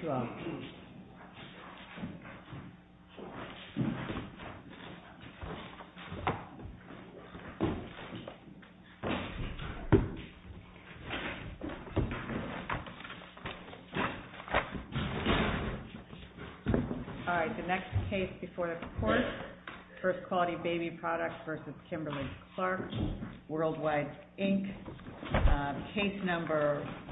All right, the next case before the court, First Quality Baby Products v. Kimberly-Clark Worldwide, Inc. Case No.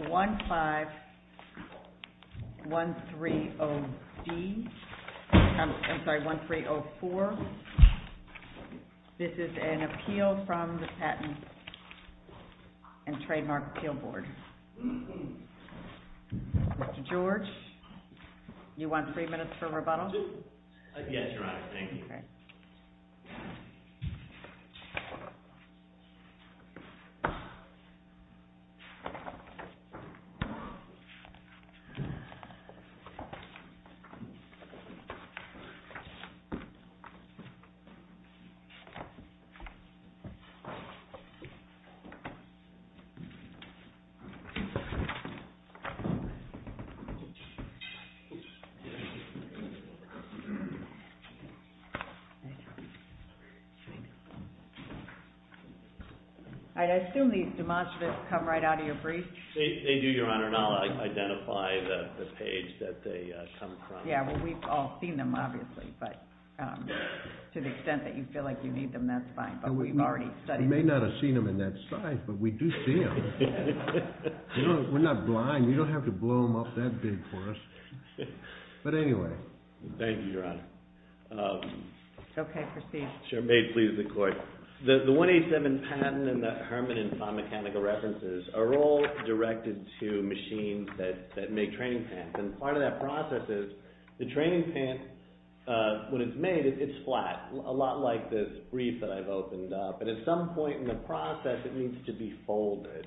151304, this is an appeal from the Patent and Trademark Appeal Board. Mr. George, you want three minutes for rebuttal? Yes, Your Honor, thank you. All right. I assume these demonstratives come right out of your briefs? They do, Your Honor, and I'll identify the page that they come from. Yeah, well, we've all seen them, obviously, but to the extent that you feel like you need them, that's fine. But we've already studied them. You may not have seen them in that size, but we do see them. We're not blind. You don't have to blow them up that big for us. But anyway. Thank you, Your Honor. Okay, proceed. Sure. May it please the Court. The 187 patent and the Herman and Fahn mechanical references are all directed to machines that make training pants, and part of that process is the training pants, when it's made, it's flat, a lot like this brief that I've opened up. But at some point in the process, it needs to be folded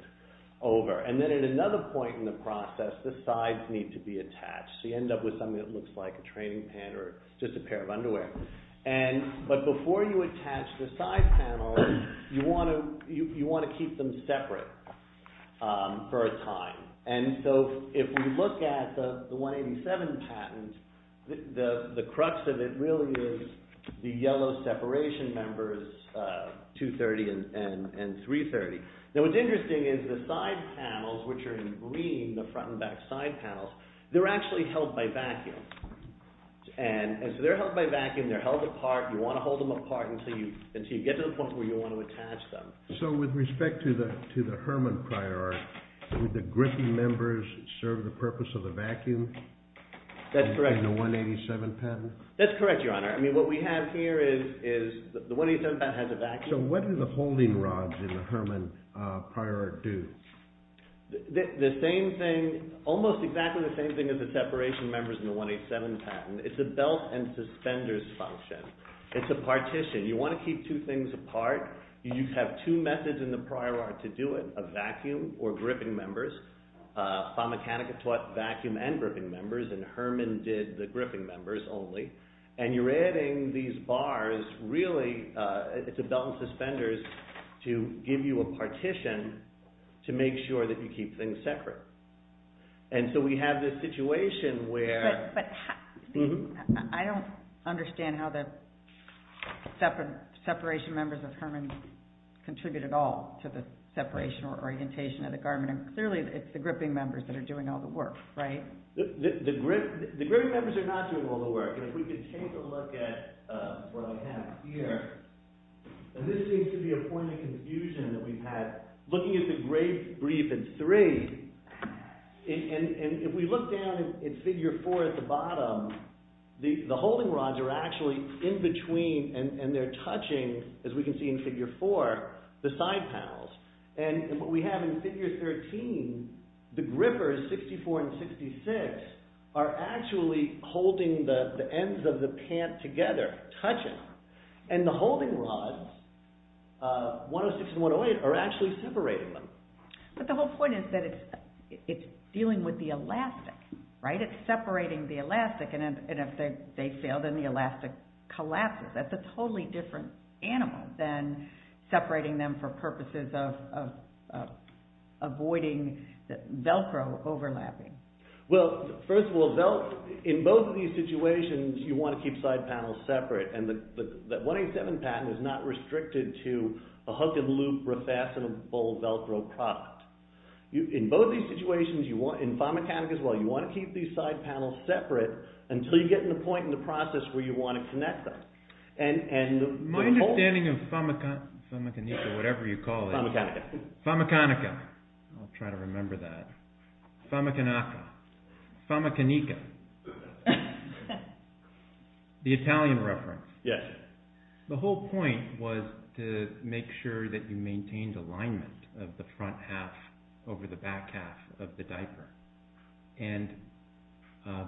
over, and then at another point in the process, the sides need to be attached. So you end up with something that looks like a training pant or just a pair of underwear. But before you attach the side panels, you want to keep them separate for a time. And so if we look at the 187 patent, the crux of it really is the yellow separation numbers 230 and 330. Now what's interesting is the side panels, which are in green, the front and back side panels, they're actually held by vacuum. And so they're held by vacuum, they're held apart, you want to hold them apart until you get to the point where you want to attach them. So with respect to the Herman prior art, would the grippy members serve the purpose of the vacuum? That's correct. In the 187 patent? That's correct, Your Honor. I mean, what we have here is the 187 patent has a vacuum. So what do the holding rods in the Herman prior art do? The same thing, almost exactly the same thing as the separation numbers in the 187 patent. It's a belt and suspenders function. It's a partition. You want to keep two things apart. You have two methods in the prior art to do it, a vacuum or gripping members. Fond Mechanica taught vacuum and gripping members, and Herman did the gripping members only. And you're adding these bars really, it's a belt and suspenders to give you a partition to make sure that you keep things separate. And so we have this situation where... But I don't understand how the separation numbers of Herman contribute at all to the separation or orientation of the garment. And clearly it's the gripping members that are doing all the work, right? The gripping members are not doing all the work. And if we could take a look at what I have here, and this seems to be a point of confusion that we've had. Looking at the grape brief in three, and if we look down at figure four at the bottom, the holding rods are actually in between and they're touching, as we can see in figure four, the side panels. And what we have in figure 13, the grippers, 64 and 66, are actually holding the ends of the pant together, touching. And the holding rods, 106 and 108, are actually separating them. But the whole point is that it's dealing with the elastic, right? It's separating the elastic, and if they fail, then the elastic collapses. That's a totally different animal than separating them for purposes of avoiding Velcro overlapping. Well, first of all, in both of these situations, you want to keep side panels separate. And the 187 patent is not restricted to a hook and loop refashionable Velcro product. In both these situations, in pharmaceuticals as well, you want to keep these side panels separate until you get to the point in the process where you want to connect them. And the whole... My understanding of Famicanica, whatever you call it... Famicanica. Famicanica. I'll try to remember that. Famicanaca. Famicanica. The Italian reference. Yes. The whole point was to make sure that you maintained alignment of the front half over the back half of the diaper. And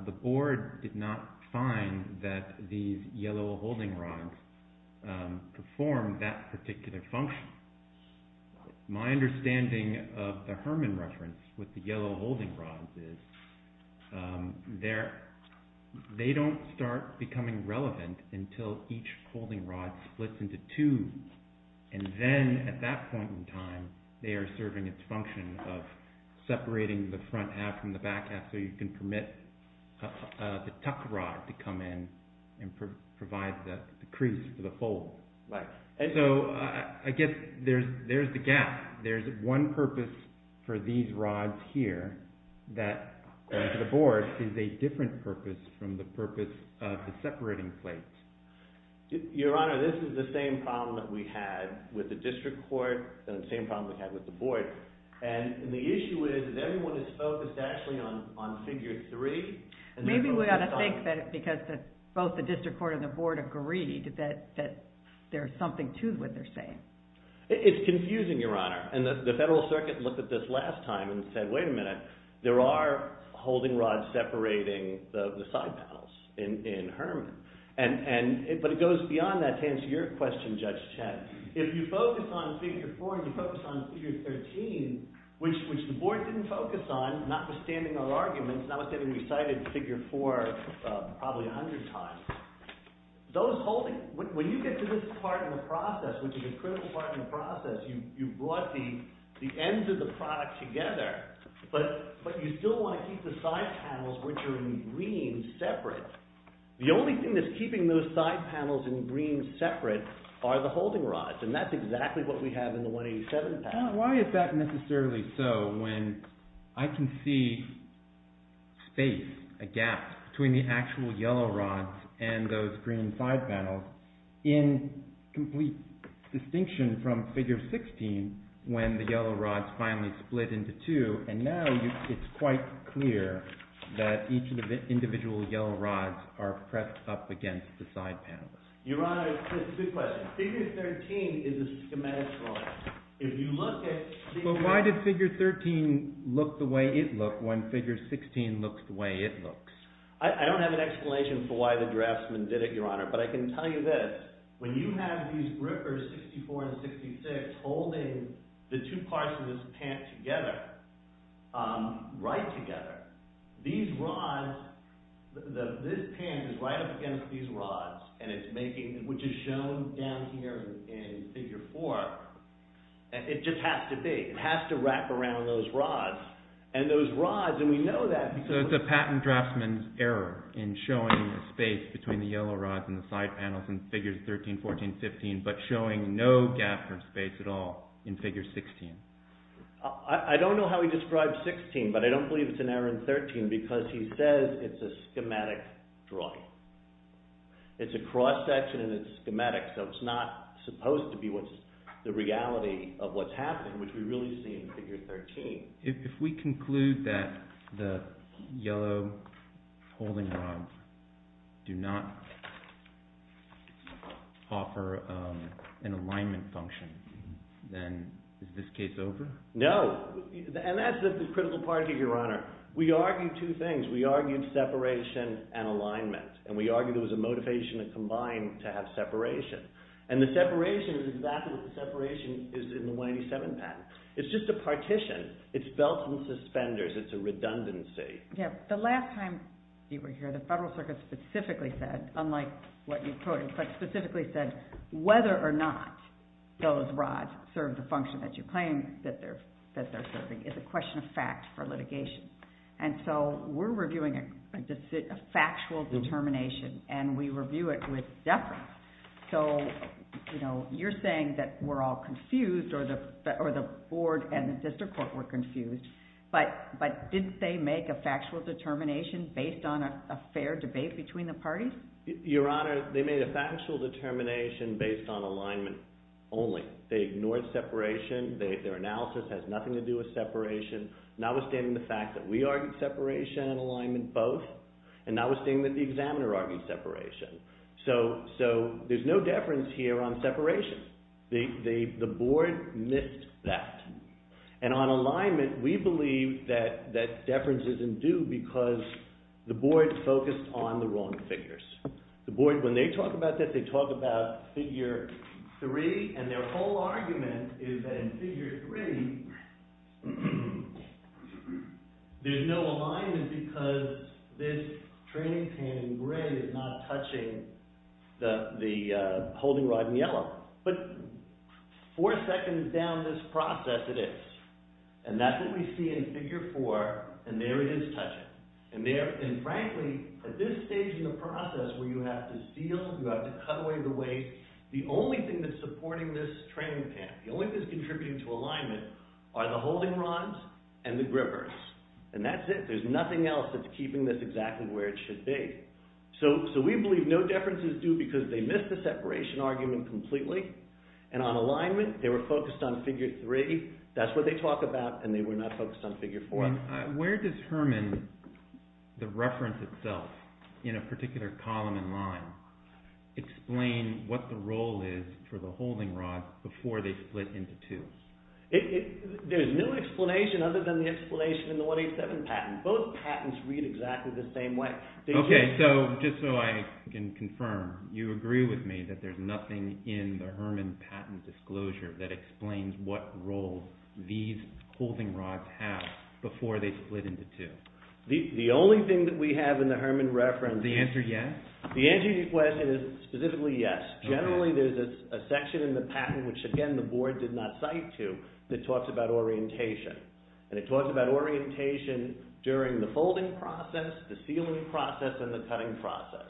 the board did not find that these yellow holding rods perform that particular function. My understanding of the Herman reference with the yellow holding rods is they don't start becoming relevant until each holding rod splits into two, and then at that point in time, they are serving its function of separating the front half from the back half so you can permit the tuck rod to come in and provide the crease for the fold. Right. So I guess there's the gap. There's one purpose for these rods here that, according to the board, is a different purpose from the purpose of the separating plates. Your Honor, this is the same problem that we had with the district court and the same problem we had with the board. And the issue is that everyone is focused actually on figure three. Maybe we ought to think that because both the district court and the board agreed that there's something to what they're saying. It's confusing, Your Honor. And the Federal Circuit looked at this last time and said, wait a minute, there are holding rods separating the side panels in Herman. But it goes beyond that to answer your question, Judge Chet. If you focus on figure four and you focus on figure 13, which the board didn't focus on, notwithstanding our arguments, notwithstanding we cited figure four probably a hundred times, when you get to this part of the process, which is a critical part of the process, you brought the ends of the product together, but you still want to keep the side panels which are in green separate. The only thing that's keeping those side panels in green separate are the holding rods. And that's exactly what we have in the 187 patent. Why is that necessarily so when I can see space, a gap between the actual yellow rods and those green side panels in complete distinction from figure 16 when the yellow rods finally split into two. And now it's quite clear that each of the individual yellow rods are pressed up against the side panels. Your Honor, it's a good question. Figure 13 is a schematic drawing. If you look at the… But why did figure 13 look the way it looked when figure 16 looks the way it looks? I don't have an explanation for why the draftsman did it, Your Honor. But I can tell you this. When you have these grippers, 64 and 66, holding the two parts of this pant together, right together, these rods, this pant is right up against these rods, which is shown down here in figure 4. It just has to be. It has to wrap around those rods. And those rods, and we know that because… So it's a patent draftsman's error in showing the space between the yellow rods and the side panels in figures 13, 14, 15, but showing no gap or space at all in figure 16. I don't know how he described 16, but I don't believe it's an error in 13 because he says it's a schematic drawing. It's a cross-section and it's schematic, so it's not supposed to be the reality of what's happening, which we really see in figure 13. If we conclude that the yellow holding rods do not offer an alignment function, then is this case over? No. And that's the critical part here, Your Honor. We argued two things. We argued separation and alignment, and we argued there was a motivation to combine to have separation. And the separation is exactly what the separation is in the 187 patent. It's just a partition. It's belts and suspenders. It's a redundancy. Yeah. The last time you were here, the Federal Circuit specifically said, unlike what you quoted, but specifically said whether or not those rods serve the function that you claim that they're serving is a question of fact for litigation. So you're saying that we're all confused, or the board and the district court were confused, but did they make a factual determination based on a fair debate between the parties? Your Honor, they made a factual determination based on alignment only. They ignored separation. Their analysis has nothing to do with separation, notwithstanding the fact that we argued separation and alignment both, and notwithstanding that the examiner argued separation. So there's no deference here on separation. The board missed that. And on alignment, we believe that deference isn't due because the board focused on the wrong figures. The board, when they talk about this, they talk about figure three, and their whole argument is that in figure three, there's no alignment because this training pan in gray is not touching the holding rod in yellow. But four seconds down this process, it is. And that's what we see in figure four, and there it is touching. And frankly, at this stage in the process where you have to seal, you have to cut away the way, the only thing that's supporting this training pan, the only thing that's contributing to alignment are the holding rods and the grippers. And that's it. There's nothing else that's keeping this exactly where it should be. So we believe no deference is due because they missed the separation argument completely, and on alignment, they were focused on figure three. That's what they talk about, and they were not focused on figure four. Where does Herman, the reference itself, in a particular column and line, explain what the role is for the holding rods before they split into two? There's no explanation other than the explanation in the 187 patent. Both patents read exactly the same way. Okay, so just so I can confirm, you agree with me that there's nothing in the Herman patent disclosure that explains what role these holding rods have before they split into two? The only thing that we have in the Herman reference is... The answer yes? The answer to your question is specifically yes. Generally, there's a section in the patent, which again, the board did not cite to, that talks about orientation. And it talks about orientation during the folding process, the sealing process, and the cutting process.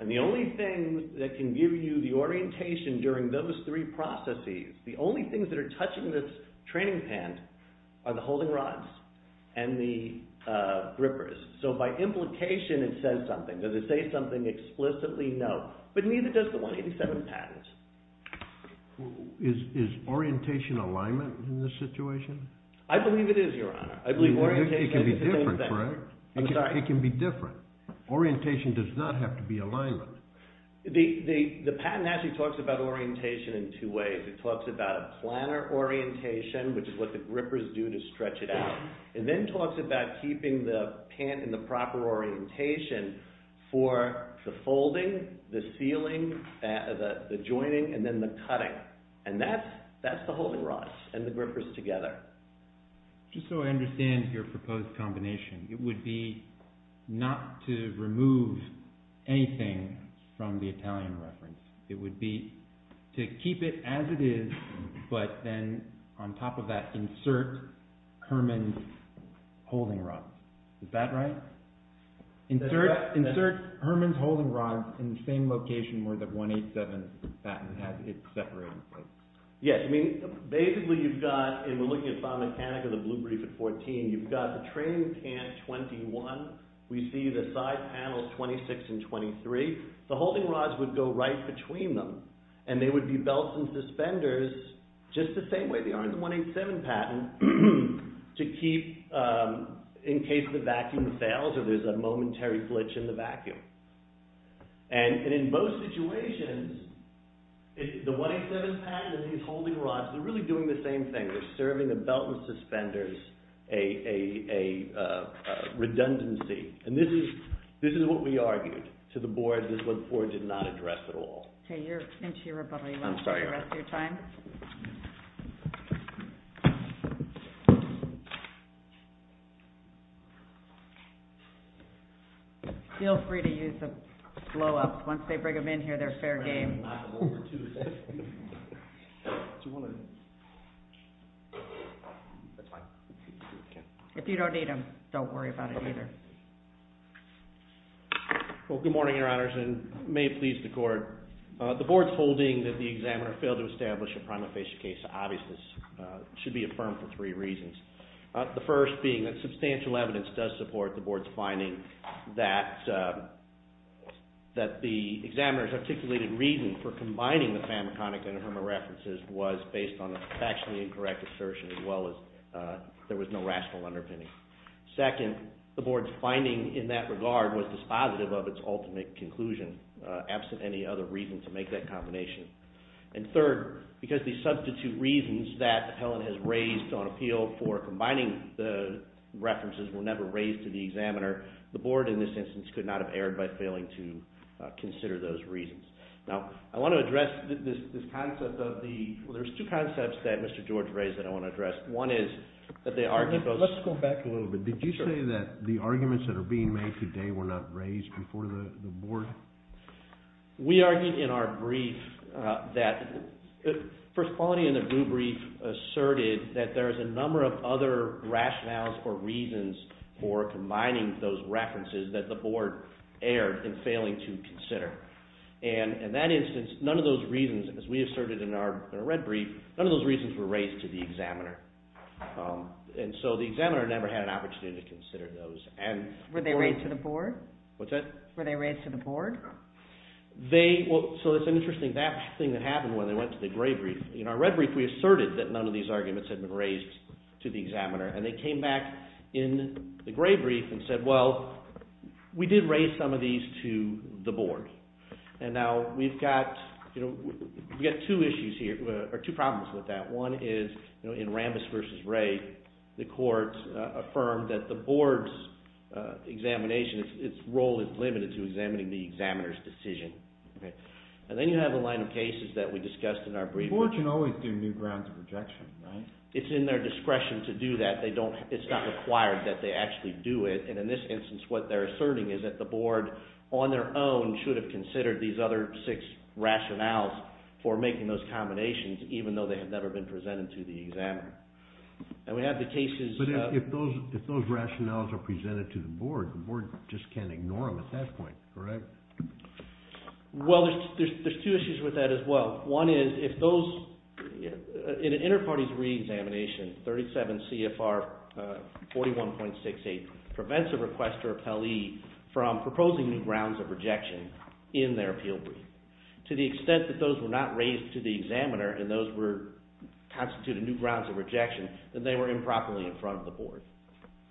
And the only thing that can give you the orientation during those three processes, the only things that are touching this training pant are the holding rods and the grippers. So by implication, it says something. Does it say something explicitly? No. But neither does the 187 patent. Is orientation alignment in this situation? I believe it is, Your Honor. It can be different, correct? I'm sorry? It can be different. Orientation does not have to be alignment. The patent actually talks about orientation in two ways. It talks about a planner orientation, which is what the grippers do to stretch it out. It then talks about keeping the pant in the proper orientation for the folding, the sealing, the joining, and then the cutting. And that's the holding rods and the grippers together. Just so I understand your proposed combination, it would be not to remove anything from the Italian reference. It would be to keep it as it is, but then on top of that insert Herman's holding rods. Is that right? Insert Herman's holding rods in the same location where the 187 patent has it separated. Yes. I mean, basically you've got, and we're looking at file mechanic of the blue brief at 14, you've got the training pant 21. We see the side panels 26 and 23. The holding rods would go right between them, and they would be belts and suspenders just the same way they are in the 187 patent to keep in case the vacuum fails or there's a momentary glitch in the vacuum. And in both situations, the 187 patent and these holding rods, they're really doing the same thing. They're serving the belt and suspenders a redundancy. And this is what we argued to the board. This is what the board did not address at all. Okay, you're into your rebuttal. You want to take the rest of your time? All right. Feel free to use the blow-up. Once they bring them in here, they're fair game. If you don't need them, don't worry about it either. Well, good morning, Your Honors, and may it please the court. The board's holding that the examiner failed to establish a prima facie case of obviousness should be affirmed for three reasons. The first being that substantial evidence does support the board's finding that the examiner's articulated reason for combining the famiconic and the Herma references was based on a factually incorrect assertion as well as there was no rational underpinning. Second, the board's finding in that regard was dispositive of its ultimate conclusion, absent any other reason to make that combination. And third, because the substitute reasons that Helen has raised on appeal for combining the references were never raised to the examiner, the board in this instance could not have erred by failing to consider those reasons. Now, I want to address this concept of the – well, there's two concepts that Mr. George raised that I want to address. One is that the argument goes – Let's go back a little bit. Did you say that the arguments that are being made today were not raised before the board? We argued in our brief that – First Quality in the blue brief asserted that there is a number of other rationales or reasons for combining those references that the board erred in failing to consider. And in that instance, none of those reasons, as we asserted in our red brief, none of those reasons were raised to the examiner. And so the examiner never had an opportunity to consider those. Were they raised to the board? What's that? Were they raised to the board? They – well, so it's interesting. That's the thing that happened when they went to the gray brief. In our red brief, we asserted that none of these arguments had been raised to the examiner, and they came back in the gray brief and said, well, we did raise some of these to the board. And now we've got two issues here – or two problems with that. One is in Rambis v. Wray, the court affirmed that the board's examination, its role is limited to examining the examiner's decision. And then you have a line of cases that we discussed in our brief. The board can always do new grounds of rejection, right? It's in their discretion to do that. They don't – it's not required that they actually do it. And in this instance, what they're asserting is that the board, on their own, should have considered these other six rationales for making those combinations, even though they had never been presented to the examiner. And we have the cases – But if those rationales are presented to the board, the board just can't ignore them at that point, correct? Well, there's two issues with that as well. One is if those – in an inter-parties re-examination, 37 CFR 41.68 prevents a requester of Pelley from proposing new grounds of rejection in their appeal brief. To the extent that those were not raised to the examiner and those were – constituted new grounds of rejection, then they were improperly in front of the board.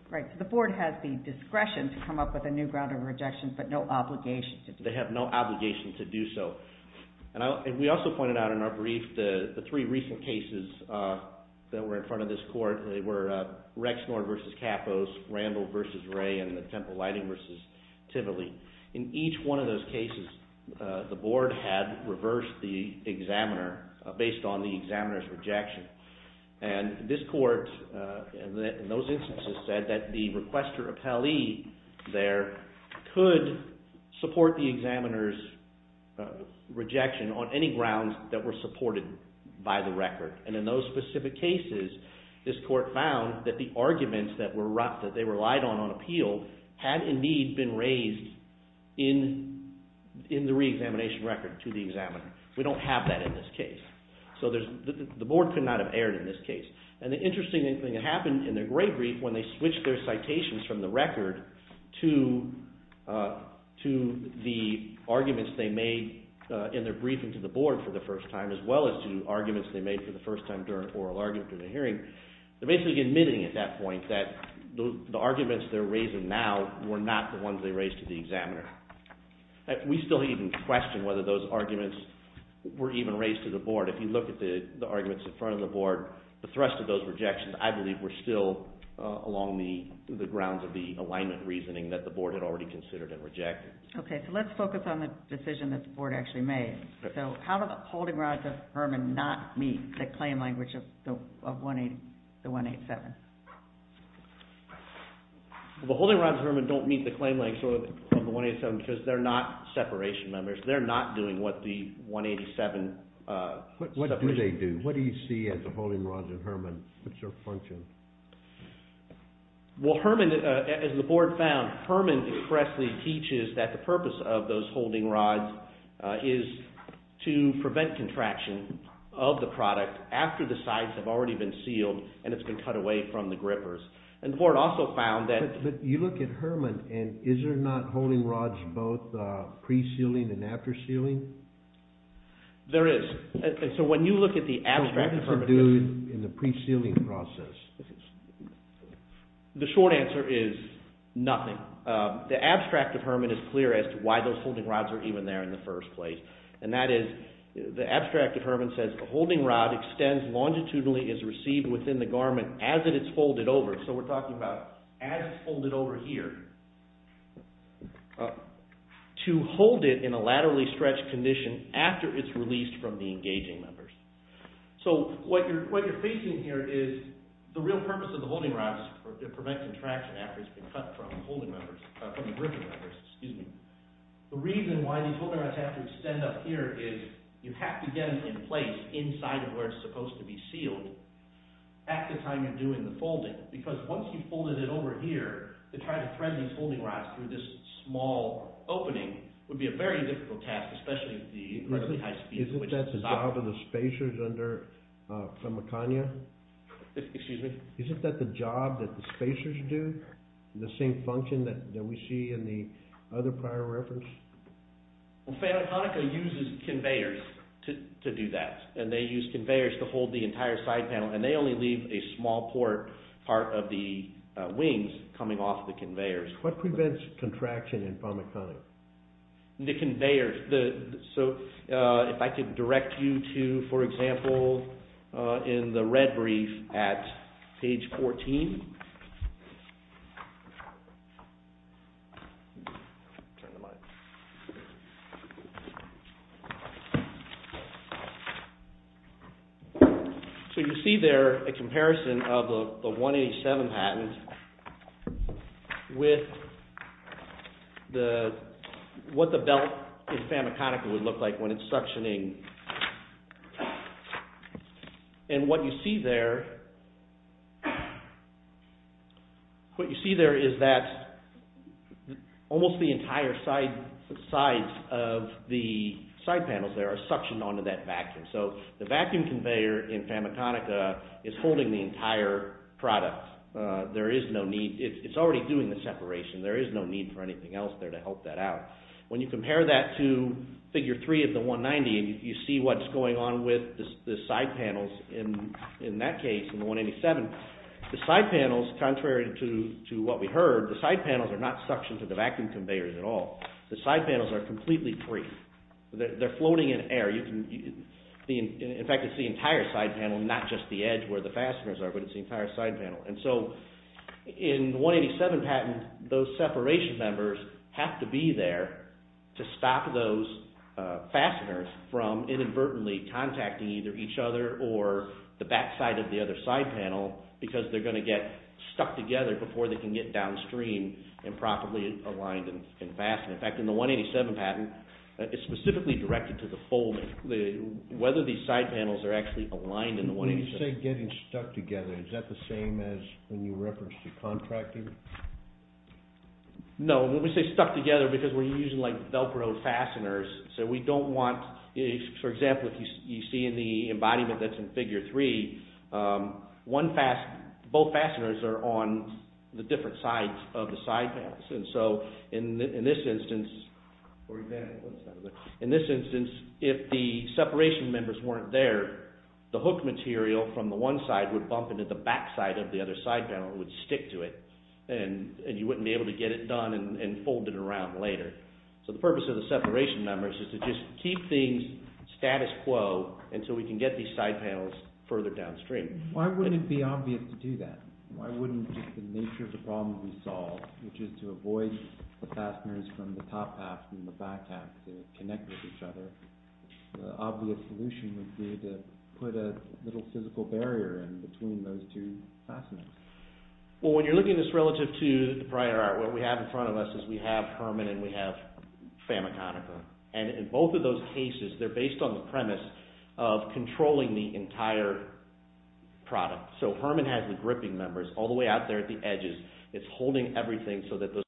Right. So the board has the discretion to come up with a new ground of rejection but no obligation to do so. They have no obligation to do so. And we also pointed out in our brief the three recent cases that were in front of this court. They were Rexnor v. Capos, Randall v. Ray, and Temple Lighting v. Tivoli. In each one of those cases, the board had reversed the examiner based on the examiner's rejection. And this court in those instances said that the requester of Pelley there could support the examiner's rejection on any grounds that were supported by the record. And in those specific cases, this court found that the arguments that were – that they relied on on appeal had indeed been raised in the reexamination record to the examiner. We don't have that in this case. So the board could not have erred in this case. And the interesting thing that happened in their gray brief when they switched their citations from the record to the arguments they made in their briefing to the board for the first time as well as to arguments they made for the first time during an oral argument during a hearing, they're basically admitting at that point that the arguments they're raising now were not the ones they raised to the examiner. We still even question whether those arguments were even raised to the board. If you look at the arguments in front of the board, the thrust of those rejections, I believe, were still along the grounds of the alignment reasoning that the board had already considered and rejected. Okay, so let's focus on the decision that the board actually made. So how do the holding rods of Herman not meet the claim language of the 187? The holding rods of Herman don't meet the claim language of the 187 because they're not separation members. They're not doing what the 187 separation members do. What do they do? What do you see as the holding rods of Herman? What's their function? Well, Herman, as the board found, Herman expressly teaches that the purpose of those holding rods is to prevent contraction of the product after the sides have already been sealed and it's been cut away from the grippers. And the board also found that— But you look at Herman, and is there not holding rods both pre-sealing and after sealing? There is. So when you look at the abstract— What does it do in the pre-sealing process? The short answer is nothing. The abstract of Herman is clear as to why those holding rods are even there in the first place. And that is, the abstract of Herman says, A holding rod extends longitudinally and is received within the garment as it is folded over. So we're talking about as it's folded over here. To hold it in a laterally stretched condition after it's released from the engaging members. So what you're facing here is the real purpose of the holding rods is to prevent contraction after it's been cut from the gripping members. The reason why these holding rods have to extend up here is you have to get them in place inside of where it's supposed to be sealed at the time you're doing the folding. Because once you've folded it over here, to try to thread these holding rods through this small opening would be a very difficult task, Isn't that the job of the spacers under Famicania? Excuse me? Isn't that the job that the spacers do? The same function that we see in the other prior reference? Well, Famiconica uses conveyors to do that. And they use conveyors to hold the entire side panel. And they only leave a small part of the wings coming off the conveyors. What prevents contraction in Famiconia? The conveyors. So if I could direct you to, for example, in the red brief at page 14. So you see there a comparison of the 187 patent with what the belt in Famiconica would look like when it's suctioning. And what you see there is that almost the entire sides of the side panels there are suctioned onto that vacuum. So the vacuum conveyor in Famiconica is holding the entire product. It's already doing the separation. There is no need for anything else there to help that out. When you compare that to figure three of the 190 and you see what's going on with the side panels in that case, in the 187, the side panels, contrary to what we heard, the side panels are not suctioned to the vacuum conveyors at all. The side panels are completely free. They're floating in air. In fact, it's the entire side panel, not just the edge where the fasteners are, but it's the entire side panel. And so in the 187 patent, those separation members have to be there to stop those fasteners from inadvertently contacting either each other or the backside of the other side panel because they're going to get stuck together before they can get downstream and properly aligned and fastened. In fact, in the 187 patent, it's specifically directed to the folding, whether these side panels are actually aligned in the 187. When you say getting stuck together, is that the same as when you reference the contracting? No. When we say stuck together, because we're using like Velcro fasteners, so we don't want, for example, if you see in the embodiment that's in figure three, both fasteners are on the different sides of the side panels. In this instance, if the separation members weren't there, the hook material from the one side would bump into the backside of the other side panel and would stick to it. And you wouldn't be able to get it done and fold it around later. So the purpose of the separation members is to just keep things status quo until we can get these side panels further downstream. Why wouldn't it be obvious to do that? Why wouldn't the nature of the problem be solved, which is to avoid the fasteners from the top half and the back half to connect with each other? The obvious solution would be to put a little physical barrier in between those two fasteners. Well, when you're looking at this relative to the prior art, what we have in front of us is we have Herman and we have Famiconica. And in both of those cases, they're based on the premise of controlling the entire product. So Herman has the gripping members all the way out there at the edges. It's holding everything so that those.............